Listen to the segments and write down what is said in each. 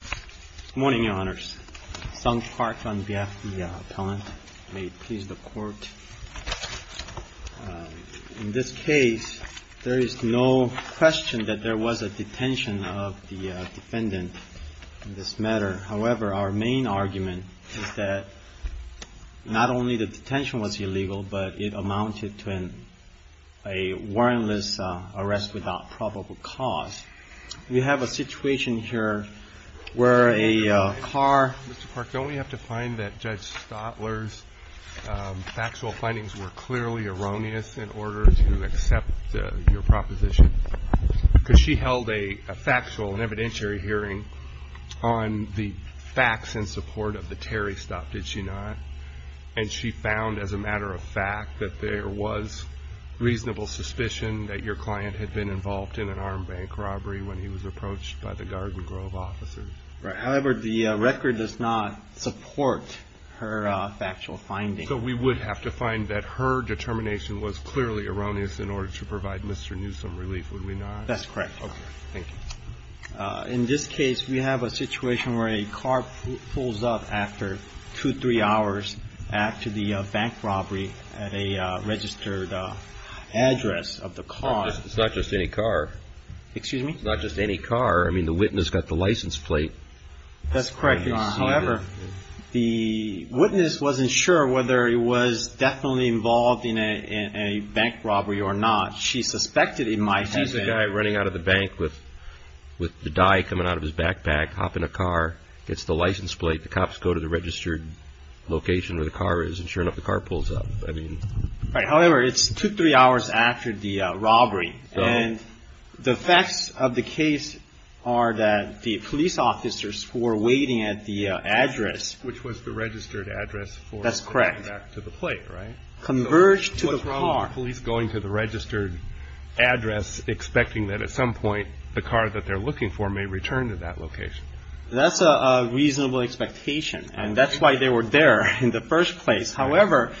Good morning, Your Honors. Sung Park on behalf of the appellant. May it please the Court. In this case, there is no question that there was a detention of the defendant in this matter. However, our main argument is that not only the detention was illegal, but it amounted to a warrantless arrest without probable cause. We have a situation here where a car... Mr. Park, don't we have to find that Judge Stotler's factual findings were clearly erroneous in order to accept your proposition? Because she held a factual and evidentiary hearing on the facts in support of the Terry stop, did she not? And she found as a matter of fact that there was reasonable suspicion that your client had been involved in an armed bank robbery when he was approached by the Garden Grove officers. Right. However, the record does not support her factual findings. So we would have to find that her determination was clearly erroneous in order to provide Mr. Newsome relief, would we not? That's correct. Okay. Thank you. In this case, we have a situation where a car pulls up after two, three hours after the bank robbery at a registered address of the car. It's not just any car. Excuse me? It's not just any car. I mean, the witness got the license plate. That's correct. However, the witness wasn't sure whether he was definitely involved in a bank robbery or not. She suspected he might have been. It's a guy running out of the bank with the dye coming out of his backpack, hopping a car, gets the license plate. The cops go to the registered location where the car is. And sure enough, the car pulls up. Right. However, it's two, three hours after the robbery. And the facts of the case are that the police officers who were waiting at the address. Which was the registered address. That's correct. Converged to the car. Police going to the registered address, expecting that at some point the car that they're looking for may return to that location. That's a reasonable expectation. And that's why they were there in the first place. However,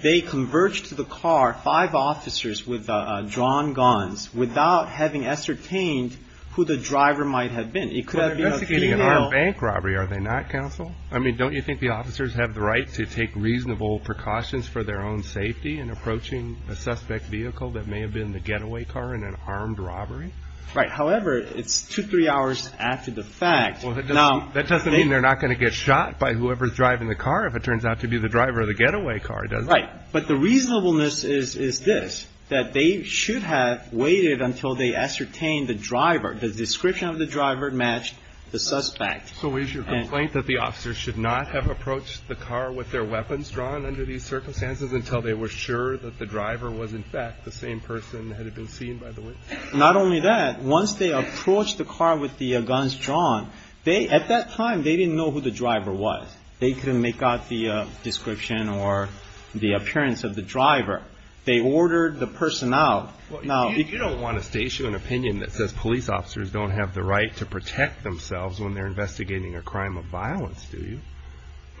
they converged to the car. Five officers with drawn guns without having ascertained who the driver might have been. It could have been an armed bank robbery. Are they not, counsel? I mean, don't you think the officers have the right to take reasonable precautions for their own safety in approaching a suspect vehicle that may have been the getaway car in an armed robbery? Right. However, it's two, three hours after the fact. Well, that doesn't mean they're not going to get shot by whoever's driving the car if it turns out to be the driver of the getaway car, does it? Right. But the reasonableness is this. That they should have waited until they ascertained the driver. The description of the driver matched the suspect. So is your complaint that the officers should not have approached the car with their weapons drawn under these circumstances until they were sure that the driver was, in fact, the same person that had been seen by the witness? Not only that. Once they approached the car with the guns drawn, they, at that time, they didn't know who the driver was. They couldn't make out the description or the appearance of the driver. They ordered the personnel. You don't want us to issue an opinion that says police officers don't have the right to protect themselves when they're investigating a crime of violence, do you?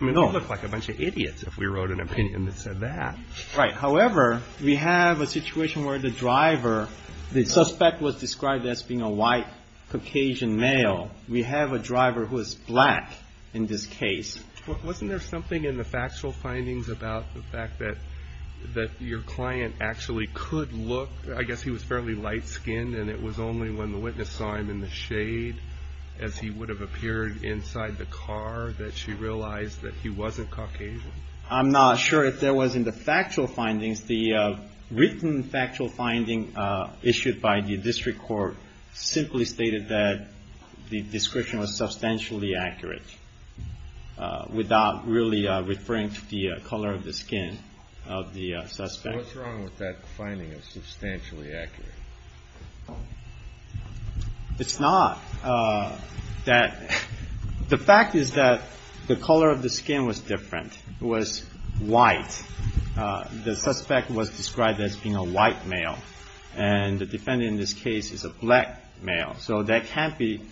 I mean, we'd look like a bunch of idiots if we wrote an opinion that said that. Right. However, we have a situation where the driver, the suspect was described as being a white Caucasian male. We have a driver who is black in this case. Wasn't there something in the factual findings about the fact that your client actually could look, I guess he was fairly light-skinned, and it was only when the witness saw him in the shade, as he would have appeared inside the car, that she realized that he wasn't Caucasian? I'm not sure if there was in the factual findings. The written factual finding issued by the district court simply stated that the description was substantially accurate, without really referring to the color of the skin of the suspect. What's wrong with that finding of substantially accurate? It's not. The fact is that the color of the skin was different. It was white. The suspect was described as being a white male, and the defendant in this case is a black male. So that can't be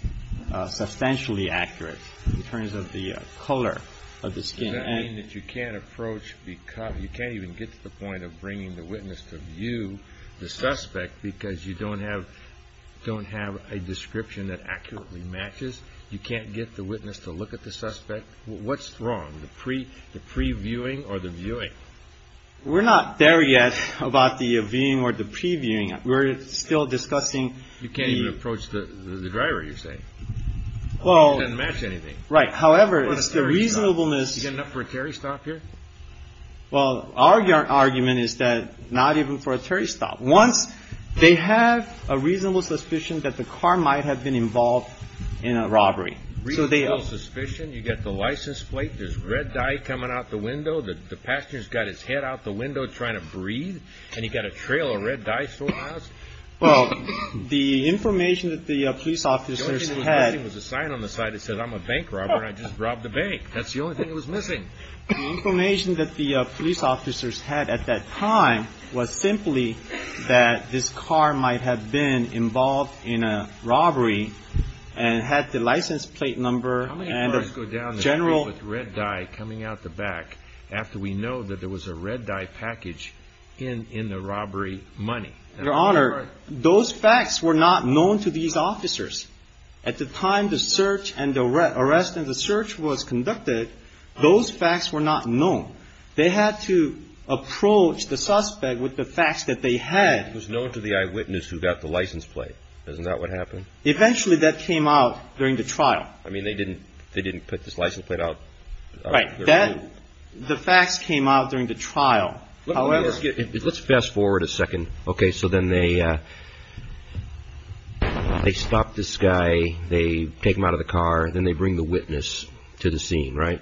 substantially accurate in terms of the color of the skin. Does that mean that you can't approach, you can't even get to the point of bringing the witness to view the suspect because you don't have a description that accurately matches? You can't get the witness to look at the suspect? What's wrong? The previewing or the viewing? We're not there yet about the viewing or the previewing. We're still discussing the... You can't even approach the driver, you're saying. Well... It doesn't match anything. Right. However, it's the reasonableness... Do you get enough for a Terry stop here? Well, our argument is that not even for a Terry stop. Once they have a reasonable suspicion that the car might have been involved in a robbery. Reasonable suspicion? You get the license plate, there's red dye coming out the window, the passenger's got his head out the window trying to breathe, and you've got a trail of red dye still in the house? Well, the information that the police officers had... The only thing that was missing was a sign on the side that said, I'm a bank robber and I just robbed a bank. That's the only thing that was missing. The information that the police officers had at that time was simply that this car might have been involved in a robbery and had the license plate number and the general... How many cars go down the street with red dye coming out the back after we know that there was a red dye package in the robbery money? Your Honor, those facts were not known to these officers. At the time the search and the arrest and the search was conducted, those facts were not known. They had to approach the suspect with the facts that they had. It was known to the eyewitness who got the license plate. Isn't that what happened? Eventually that came out during the trial. I mean, they didn't put this license plate out. Right. The facts came out during the trial. Let's fast forward a second. Okay, so then they stop this guy, they take him out of the car, and then they bring the witness to the scene, right?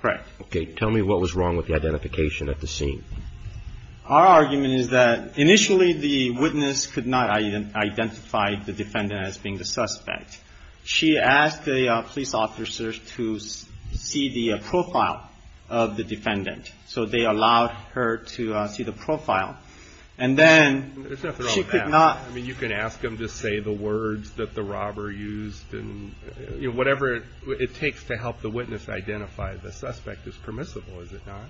Correct. Okay, tell me what was wrong with the identification at the scene. Our argument is that initially the witness could not identify the defendant as being the suspect. She asked the police officers to see the profile of the defendant, so they allowed her to see the profile. And then she could not... I mean, you can ask them to say the words that the robber used and whatever it takes to help the witness identify the suspect is permissible, is it not?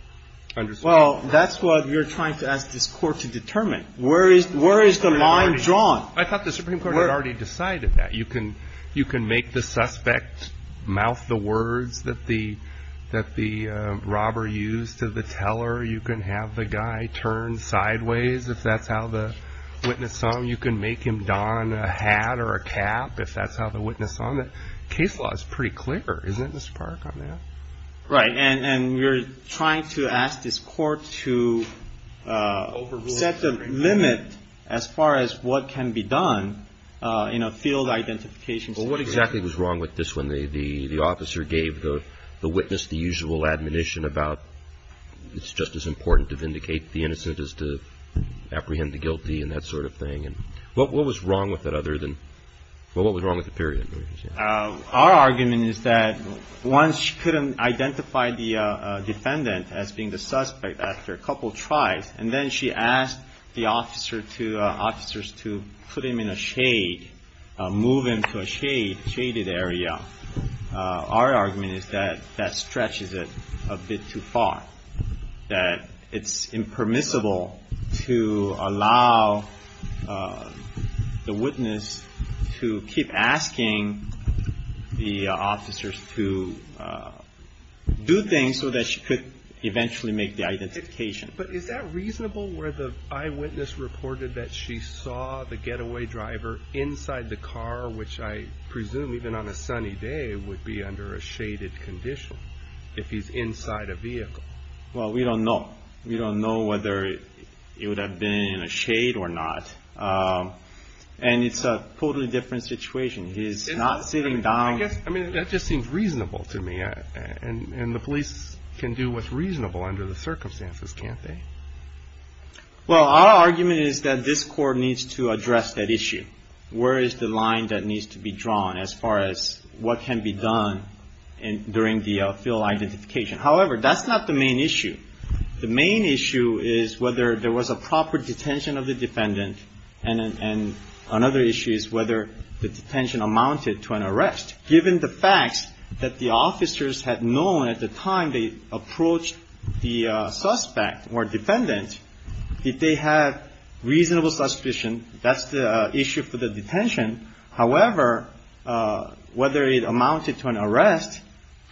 Well, that's what you're trying to ask this court to determine. Where is the line drawn? I thought the Supreme Court had already decided that. You can make the suspect mouth the words that the robber used to the teller. You can have the guy turn sideways if that's how the witness saw him. You can make him don a hat or a cap if that's how the witness saw him. The case law is pretty clear, isn't it, Mr. Park, on that? Right. And we're trying to ask this court to set a limit as far as what can be done in a field identification situation. Well, what exactly was wrong with this when the officer gave the witness the usual admonition about it's just as important to vindicate the innocent as to apprehend the guilty and that sort of thing? What was wrong with it other than... Well, what was wrong with the period? Our argument is that once she couldn't identify the defendant as being the suspect after a couple tries, and then she asked the officers to put him in a shade, move him to a shaded area, our argument is that that stretches it a bit too far, that it's impermissible to allow the witness to keep asking the officers to do things so that she could eventually make the identification. But is that reasonable where the eyewitness reported that she saw the getaway driver inside the car, which I presume even on a sunny day would be under a shaded condition if he's inside a vehicle? Well, we don't know. We don't know whether it would have been in a shade or not. And it's a totally different situation. He's not sitting down... I mean, that just seems reasonable to me. And the police can do what's reasonable under the circumstances, can't they? Well, our argument is that this court needs to address that issue. Where is the line that needs to be drawn as far as what can be done during the field identification? However, that's not the main issue. The main issue is whether there was a proper detention of the defendant, and another issue is whether the detention amounted to an arrest. Given the facts that the officers had known at the time they approached the suspect or defendant, if they had reasonable suspicion, that's the issue for the detention. However, whether it amounted to an arrest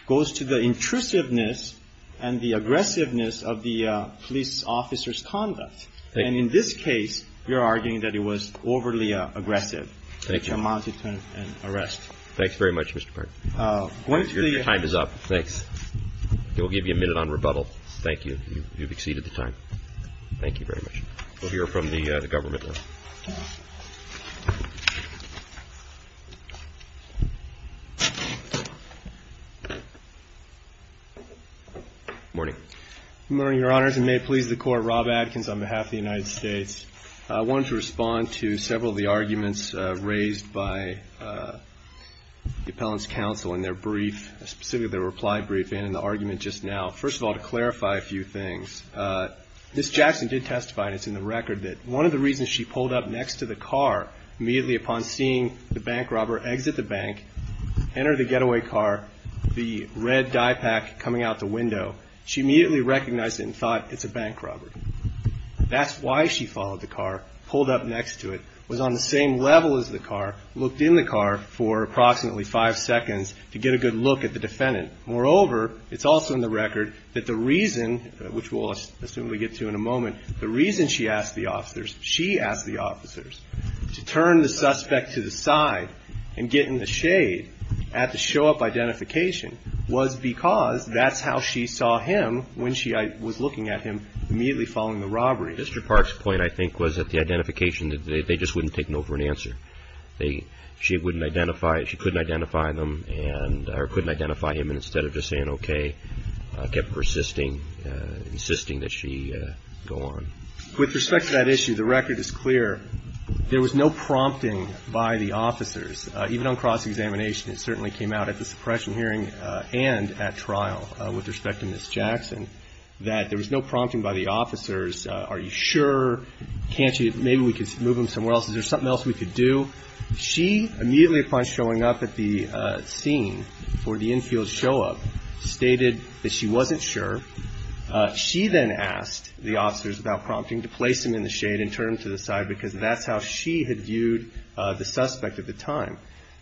goes to the intrusiveness and the aggressiveness of the police officer's conduct. And in this case, you're arguing that it was overly aggressive. Thank you. Which amounted to an arrest. Thanks very much, Mr. Park. Your time is up. Thanks. We'll give you a minute on rebuttal. Thank you. You've exceeded the time. Thank you very much. We'll hear from the government now. Good morning. Good morning, Your Honors. And may it please the Court, Rob Adkins on behalf of the United States. I wanted to respond to several of the arguments raised by the Appellant's Counsel in their brief, specifically their reply briefing, and the argument just now. First of all, to clarify a few things, Ms. Jackson did testify, and it's in the record, that one of the reasons she pulled up next to the car immediately upon seeing the bank robber exit the bank, enter the getaway car, the red dye pack coming out the window, she immediately recognized it and thought, it's a bank robber. That's why she followed the car, pulled up next to it, was on the same level as the car, looked in the car for approximately five seconds to get a good look at the defendant. Moreover, it's also in the record that the reason, which we'll assume we get to in a moment, the reason she asked the officers, she asked the officers to turn the suspect to the side and get in the shade at the show-up identification was because that's how she saw him when she was looking at him immediately following the robbery. Mr. Park's point, I think, was that the identification, they just wouldn't take no for an answer. She wouldn't identify, she couldn't identify them, or couldn't identify him, and instead of just saying okay, kept persisting, insisting that she go on. With respect to that issue, the record is clear. There was no prompting by the officers, even on cross-examination. It certainly came out at the suppression hearing and at trial with respect to Ms. Jackson, that there was no prompting by the officers. Are you sure? Can't you? Maybe we could move him somewhere else. Is there something else we could do? She, immediately upon showing up at the scene for the infield show-up, stated that she wasn't sure. She then asked the officers without prompting to place him in the shade and turn him to the side because that's how she had viewed the suspect at the time.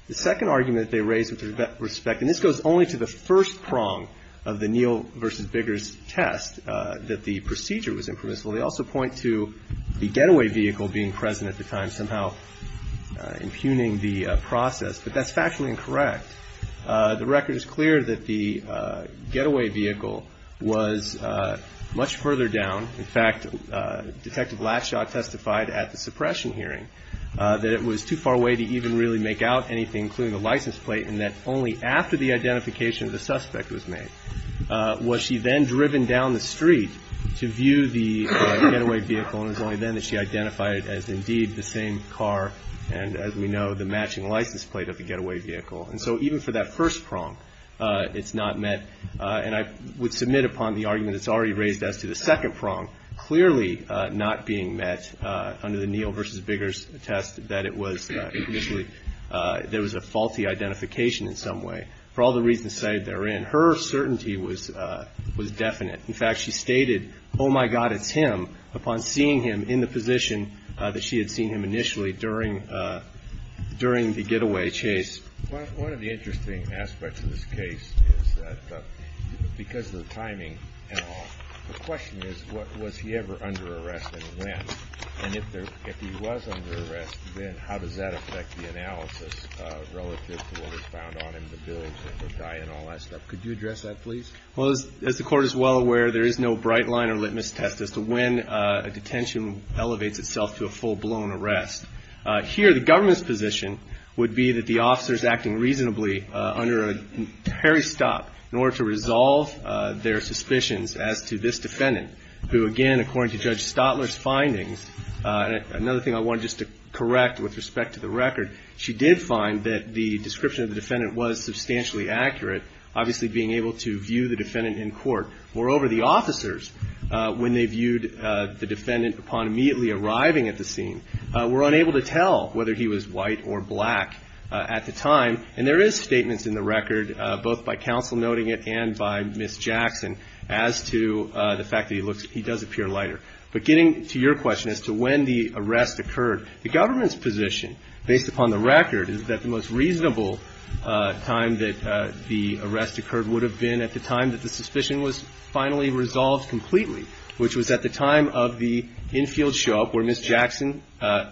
The second argument they raised with respect, and this goes only to the first prong of the Neal v. Biggers test, that the procedure was impermissible. They also point to the getaway vehicle being present at the time, somehow impugning the process, but that's factually incorrect. The record is clear that the getaway vehicle was much further down. In fact, Detective Latshaw testified at the suppression hearing that it was too far away to even really make out anything, including the license plate, and that only after the identification of the suspect was made was she then driven down the street to view the getaway vehicle, and it was only then that she identified it as, indeed, the same car and, as we know, the matching license plate of the getaway vehicle. And so even for that first prong, it's not met. And I would submit upon the argument that's already raised as to the second prong, clearly not being met under the Neal v. Biggers test that it was initially, there was a faulty identification in some way. For all the reasons cited therein, her certainty was definite. In fact, she stated, oh, my God, it's him, upon seeing him in the position that she had seen him initially during the getaway chase. One of the interesting aspects of this case is that because of the timing and all, the question is, was he ever under arrest and when? And if he was under arrest, then how does that affect the analysis relative to what was found on him, the bills and the diet and all that stuff? Could you address that, please? Well, as the Court is well aware, there is no bright line or litmus test as to when a detention elevates itself to a full-blown arrest. Here, the government's position would be that the officer is acting reasonably under a tarry stop in order to resolve their suspicions as to this defendant, who, again, according to Judge Stotler's findings, and another thing I wanted just to correct with respect to the record, she did find that the description of the defendant was substantially accurate, obviously being able to view the defendant in court. Moreover, the officers, when they viewed the defendant upon immediately arriving at the scene, were unable to tell whether he was white or black at the time. And there is statements in the record, both by counsel noting it and by Ms. Jackson, as to the fact that he does appear lighter. But getting to your question as to when the arrest occurred, the government's position based upon the record is that the most reasonable time that the arrest occurred would have been at the time that the suspicion was finally resolved completely, which was at the time of the infield show-up where Ms. Jackson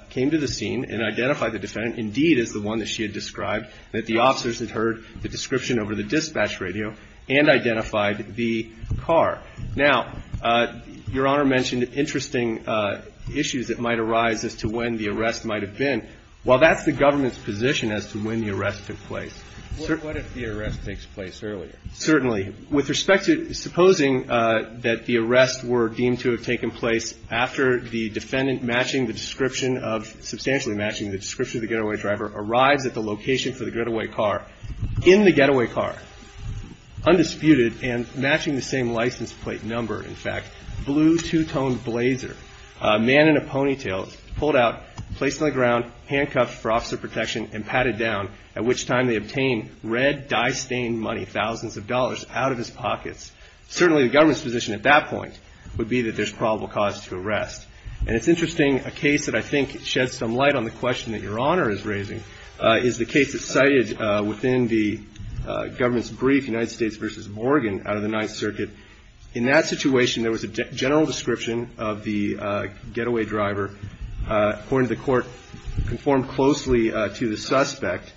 came to the scene and identified the defendant indeed as the one that she had described, that the officers had heard the description over the dispatch radio and identified the car. Now, Your Honor mentioned interesting issues that might arise as to when the arrest might have been. Well, that's the government's position as to when the arrest took place. What if the arrest takes place earlier? Certainly. With respect to supposing that the arrest were deemed to have taken place after the defendant matching the description of the getaway driver arrives at the location for the getaway car, in the getaway car, undisputed and matching the same license plate number, in fact, blue two-toned blazer, a man in a ponytail, pulled out, placed on the ground, handcuffed for officer protection and patted down, at which time they obtained red dye-stained money, thousands of dollars, out of his pockets. Certainly the government's position at that point would be that there's probable cause to arrest. And it's interesting, a case that I think sheds some light on the question that Your Honor is raising is the case that's cited within the government's brief, United States v. Oregon, out of the Ninth Circuit. In that situation, there was a general description of the getaway driver, according to the court, conformed closely to the suspect,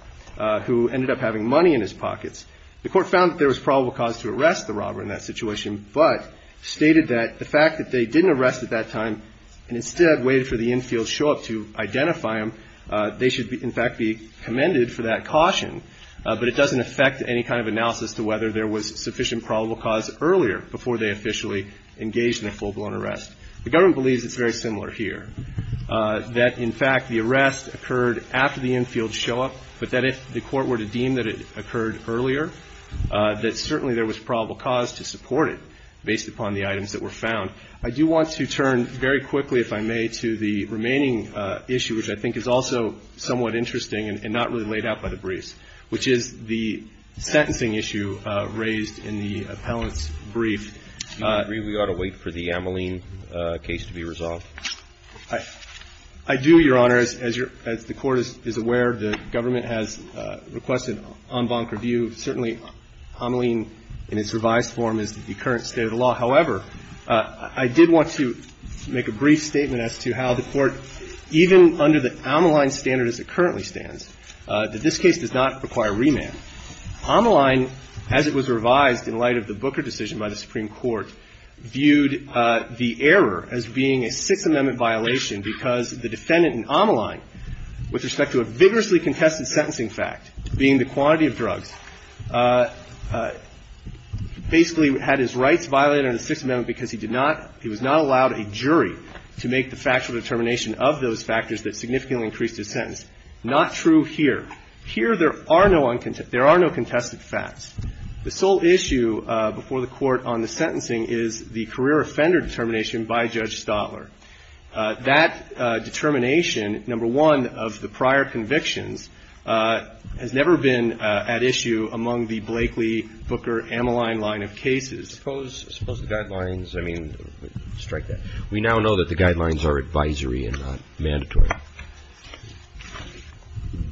who ended up having money in his pockets. The court found that there was probable cause to arrest the robber in that situation, but stated that the fact that they didn't arrest at that time and instead waited for the infield show-up to identify him, they should, in fact, be commended for that caution. But it doesn't affect any kind of analysis to whether there was sufficient probable cause earlier before they officially engaged in a full-blown arrest. The government believes it's very similar here, that, in fact, the arrest occurred after the infield show-up, but that if the court were to deem that it occurred earlier, that certainly there was probable cause to support it based upon the items that were found. I do want to turn very quickly, if I may, to the remaining issue, which I think is also somewhat interesting and not really laid out by the briefs, which is the sentencing issue raised in the appellant's brief. I agree we ought to wait for the Ameline case to be resolved. I do, Your Honor. As the Court is aware, the government has requested en banc review. Certainly, Ameline in its revised form is the current state of the law. However, I did want to make a brief statement as to how the Court, even under the Ameline standard as it currently stands, that this case does not require remand. Ameline, as it was revised in light of the Booker decision by the Supreme Court, viewed the error as being a Sixth Amendment violation because the defendant in Ameline, with respect to a vigorously contested sentencing fact, being the quantity of drugs, basically had his rights violated under the Sixth Amendment because he did not, he was not allowed a jury to make the factual determination of those factors that significantly increased his sentence. Not true here. Here, there are no uncontested, there are no contested facts. The sole issue before the Court on the sentencing is the career offender determination by Judge Stotler. That determination, number one, of the prior convictions, has never been at issue among the Blakely, Booker, Ameline line of cases. Suppose the guidelines, I mean, strike that. We now know that the guidelines are advisory and not mandatory.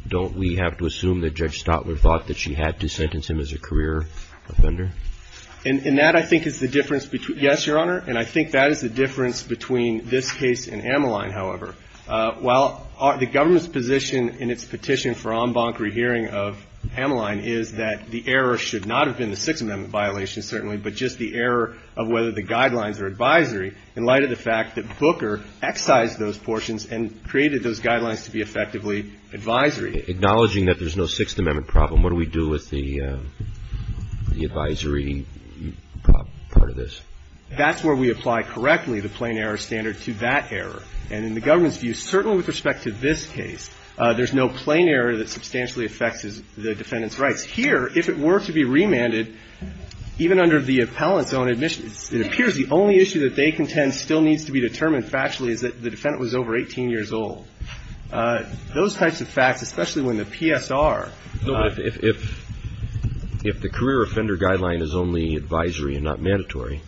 Don't we have to assume that Judge Stotler thought that she had to sentence him as a career offender? And that, I think, is the difference between, yes, Your Honor, and I think that is the difference between this case and Ameline, however. While the government's position in its petition for en banc rehearing of Ameline is that the error should not have been the Sixth Amendment violation, certainly, but just the error of whether the guidelines are advisory in light of the fact that Booker excised those portions and created those guidelines to be effectively advisory. Acknowledging that there's no Sixth Amendment problem, what do we do with the advisory part of this? That's where we apply correctly the plain error standard to that error. And in the government's view, certainly with respect to this case, there's no plain error that substantially affects the defendant's rights. Here, if it were to be remanded, even under the appellant's own admission, it appears the only issue that they contend still needs to be determined factually is that the defendant was over 18 years old. Those types of facts, especially when the PSR. No, but if the career offender guideline is only advisory and not mandatory,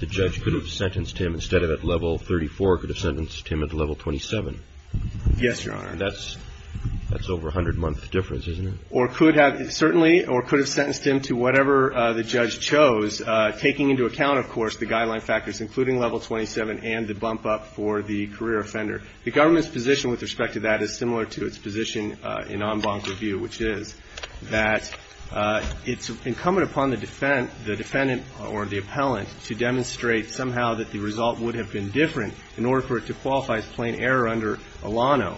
the judge could have sentenced him instead of at level 34, could have sentenced him at level 27. Yes, Your Honor. That's over a hundred-month difference, isn't it? Or could have, certainly, or could have sentenced him to whatever the judge chose, taking into account, of course, the guideline factors, including level 27 and the bump up for the career offender. The government's position with respect to that is similar to its position in en banc review, which is that it's incumbent upon the defendant or the appellant to demonstrate somehow that the result would have been different in order for it to qualify as plain error under Alano.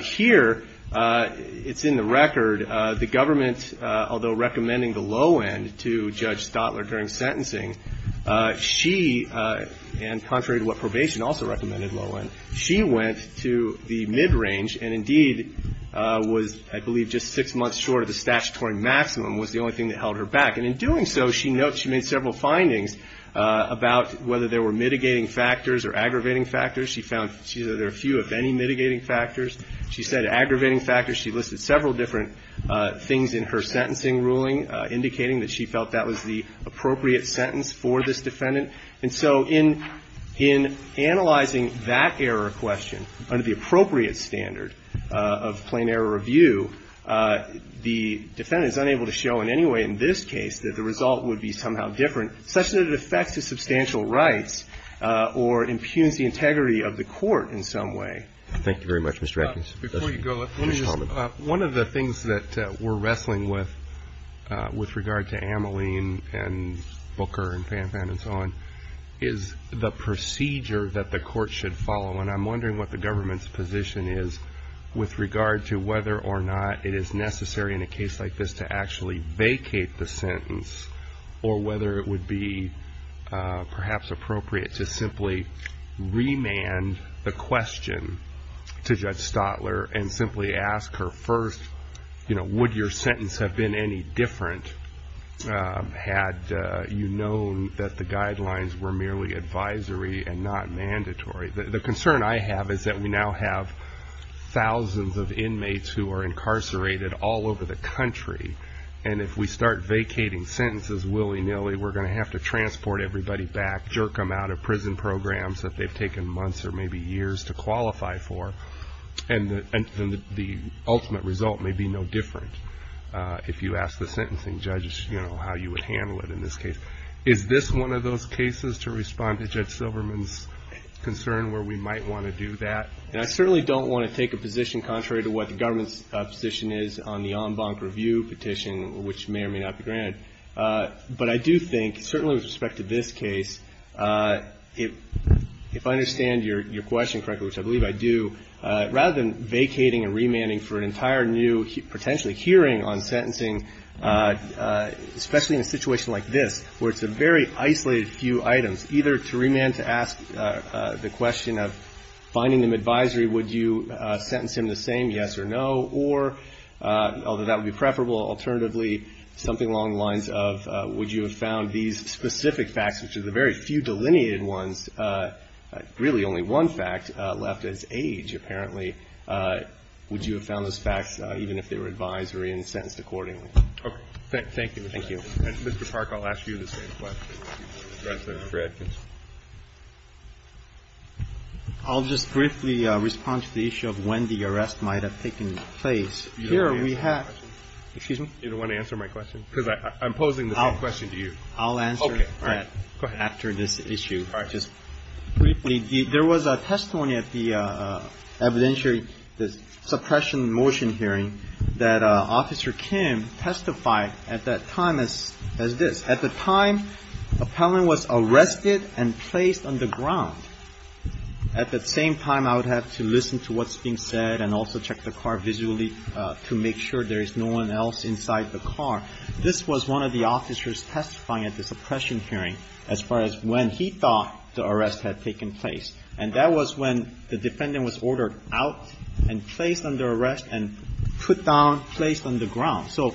Here, it's in the record, the government, although recommending the low end to Judge Stotler during sentencing, she, and contrary to what probation also recommended low end, she went to the mid-range and, indeed, was, I believe, just six months short of the statutory maximum, was the only thing that held her back. And in doing so, she notes she made several findings about whether there were mitigating factors or aggravating factors. She found there were a few, if any, mitigating factors. She said aggravating factors. She listed several different things in her sentencing ruling, indicating that she felt that was the appropriate sentence for this defendant. And so in analyzing that error question under the appropriate standard of plain error review, the defendant is unable to show in any way in this case that the result would be somehow different, such that it affects his substantial rights or impugns the integrity of the court in some way. Thank you very much, Mr. Ekins. Before you go, let me just, one of the things that we're wrestling with, with regard to Ameline and Booker and Fanfan and so on, is the procedure that the court should follow. And I'm wondering what the government's position is with regard to whether or not it is necessary in a case like this to actually vacate the sentence or whether it would be perhaps appropriate to simply remand the question to Judge Stotler and simply ask her first, you know, would your sentence have been any different had you known that the guidelines were merely advisory and not mandatory? The concern I have is that we now have thousands of inmates who are incarcerated all over the country. And if we start vacating sentences willy-nilly, we're going to have to transport everybody back, jerk them out of prison programs that they've taken months or maybe years to qualify for. And the ultimate result may be no different if you ask the sentencing judges, you know, how you would handle it in this case. Is this one of those cases, to respond to Judge Silverman's concern, where we might want to do that? And I certainly don't want to take a position contrary to what the government's position is on the en banc review petition, which may or may not be granted. But I do think, certainly with respect to this case, if I understand your question correctly, which I believe I do, rather than vacating and remanding for an entire new potentially hearing on sentencing, especially in a situation like this, where it's a very isolated few items, either to remand to ask the question of finding them or, although that would be preferable, alternatively, something along the lines of would you have found these specific facts, which are the very few delineated ones, really only one fact, left as age, apparently, would you have found those facts, even if they were advisory and sentenced accordingly? Thank you. Thank you. Mr. Park, I'll ask you the same question. Mr. Fredkin. I'll just briefly respond to the issue of when the arrest might have taken place. You don't want to answer my question? Excuse me? You don't want to answer my question? Because I'm posing the same question to you. Okay. All right. I'll answer that after this issue. All right. Just briefly, there was a testimony at the evidentiary, the suppression motion hearing, that Officer Kim testified at that time as this. At the time, appellant was arrested and placed on the ground. At the same time, I would have to listen to what's being said and also check the car visually to make sure there is no one else inside the car. This was one of the officers testifying at the suppression hearing as far as when he thought the arrest had taken place. And that was when the defendant was ordered out and placed under arrest and put down, placed on the ground. So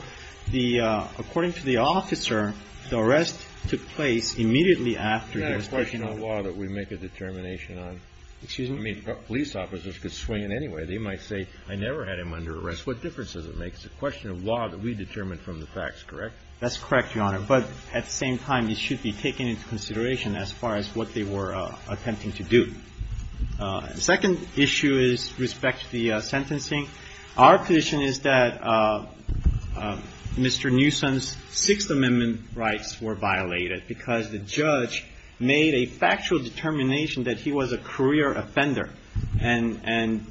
the – according to the officer, the arrest took place immediately after his testimony. Isn't that a question of law that we make a determination on? Excuse me? I mean, police officers could swing it anyway. They might say, I never had him under arrest. What difference does it make? It's a question of law that we determine from the facts, correct? That's correct, Your Honor. But at the same time, it should be taken into consideration as far as what they were attempting to do. The second issue is with respect to the sentencing. Our position is that Mr. Newsom's Sixth Amendment rights were violated because the judge made a factual determination that he was a career offender. And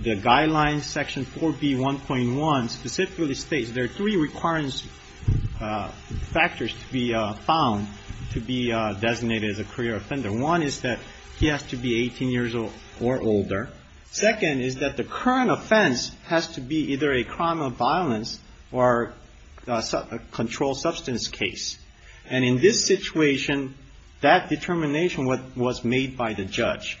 the guidelines, Section 4B1.1, specifically states there are three requirements factors to be found to be designated as a career offender. One is that he has to be 18 years or older. Second is that the current offense has to be either a crime of violence or a controlled substance case. And in this situation, that determination was made by the judge.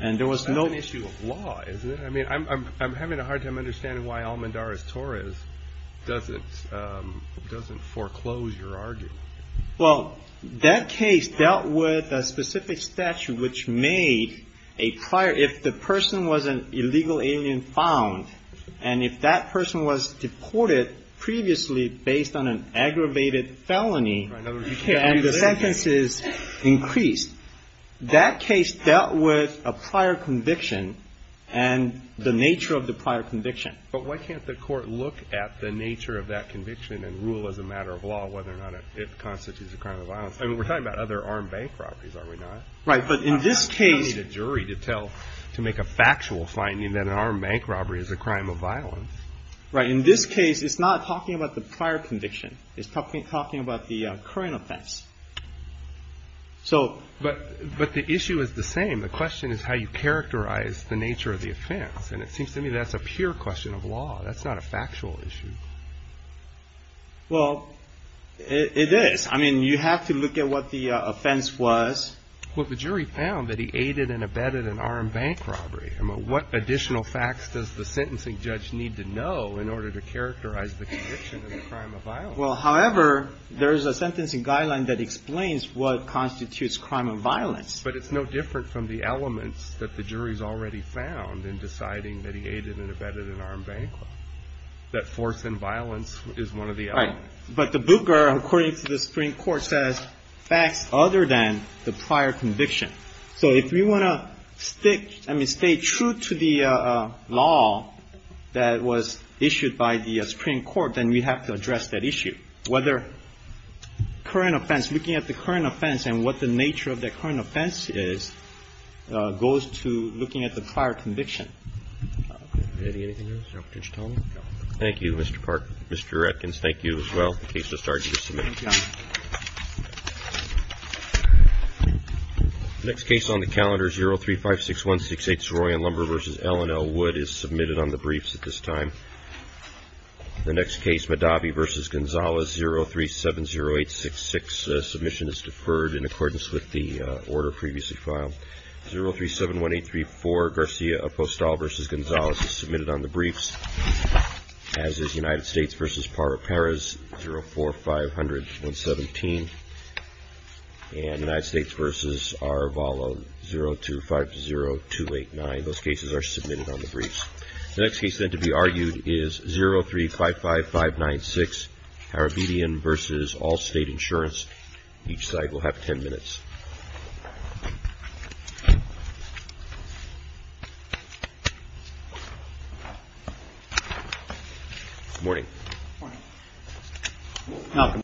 And there was no – That's an issue of law, isn't it? I mean, I'm having a hard time understanding why Almendarez-Torres doesn't foreclose your argument. Well, that case dealt with a specific statute which made a prior – if the person was an illegal alien found, and if that person was deported previously based on an aggravated felony, and the sentences increased, that case dealt with a prior conviction and the nature of the prior conviction. But why can't the Court look at the nature of that conviction and rule as a matter of law, whether or not it constitutes a crime of violence? I mean, we're talking about other armed bank robberies, are we not? Right. But in this case – You don't need a jury to tell – to make a factual finding that an armed bank robbery is a crime of violence. Right. In this case, it's not talking about the prior conviction. It's talking about the current offense. So – But the issue is the same. The question is how you characterize the nature of the offense. And it seems to me that's a pure question of law. That's not a factual issue. Well, it is. I mean, you have to look at what the offense was. Well, the jury found that he aided and abetted an armed bank robbery. I mean, what additional facts does the sentencing judge need to know in order to characterize the conviction as a crime of violence? Well, however, there is a sentencing guideline that explains what constitutes crime of violence. But it's no different from the elements that the jury's already found in deciding that he aided and abetted an armed bank robbery. That force and violence is one of the elements. Right. But the Booker, according to the Supreme Court, says facts other than the prior conviction. So if we want to stick – I mean, stay true to the law that was issued by the Supreme Court, then we have to address that issue. Whether current offense – looking at the current offense and what the nature of the current offense is goes to looking at the prior conviction. Eddie, anything else you have potential to tell me? No. Thank you, Mr. Clark. Mr. Atkins, thank you as well. The case has started to be submitted. Thank you, Your Honor. The next case on the calendar, 0356168, Soroyan Lumber v. Ellen L. Wood, is submitted on the briefs at this time. The next case, Madabi v. Gonzales, 0370866, submission is deferred in accordance with the order previously filed. 0371834, Garcia Apostol v. Gonzales, is submitted on the briefs, as is United States v. Parra Perez, 04500117, and United States v. Arvalo, 0250289. Those cases are submitted on the briefs. The next case, then, to be argued is 0355596, Harabedian v. Allstate Insurance. Each side will have 10 minutes. Good morning. Good morning. Malcolm.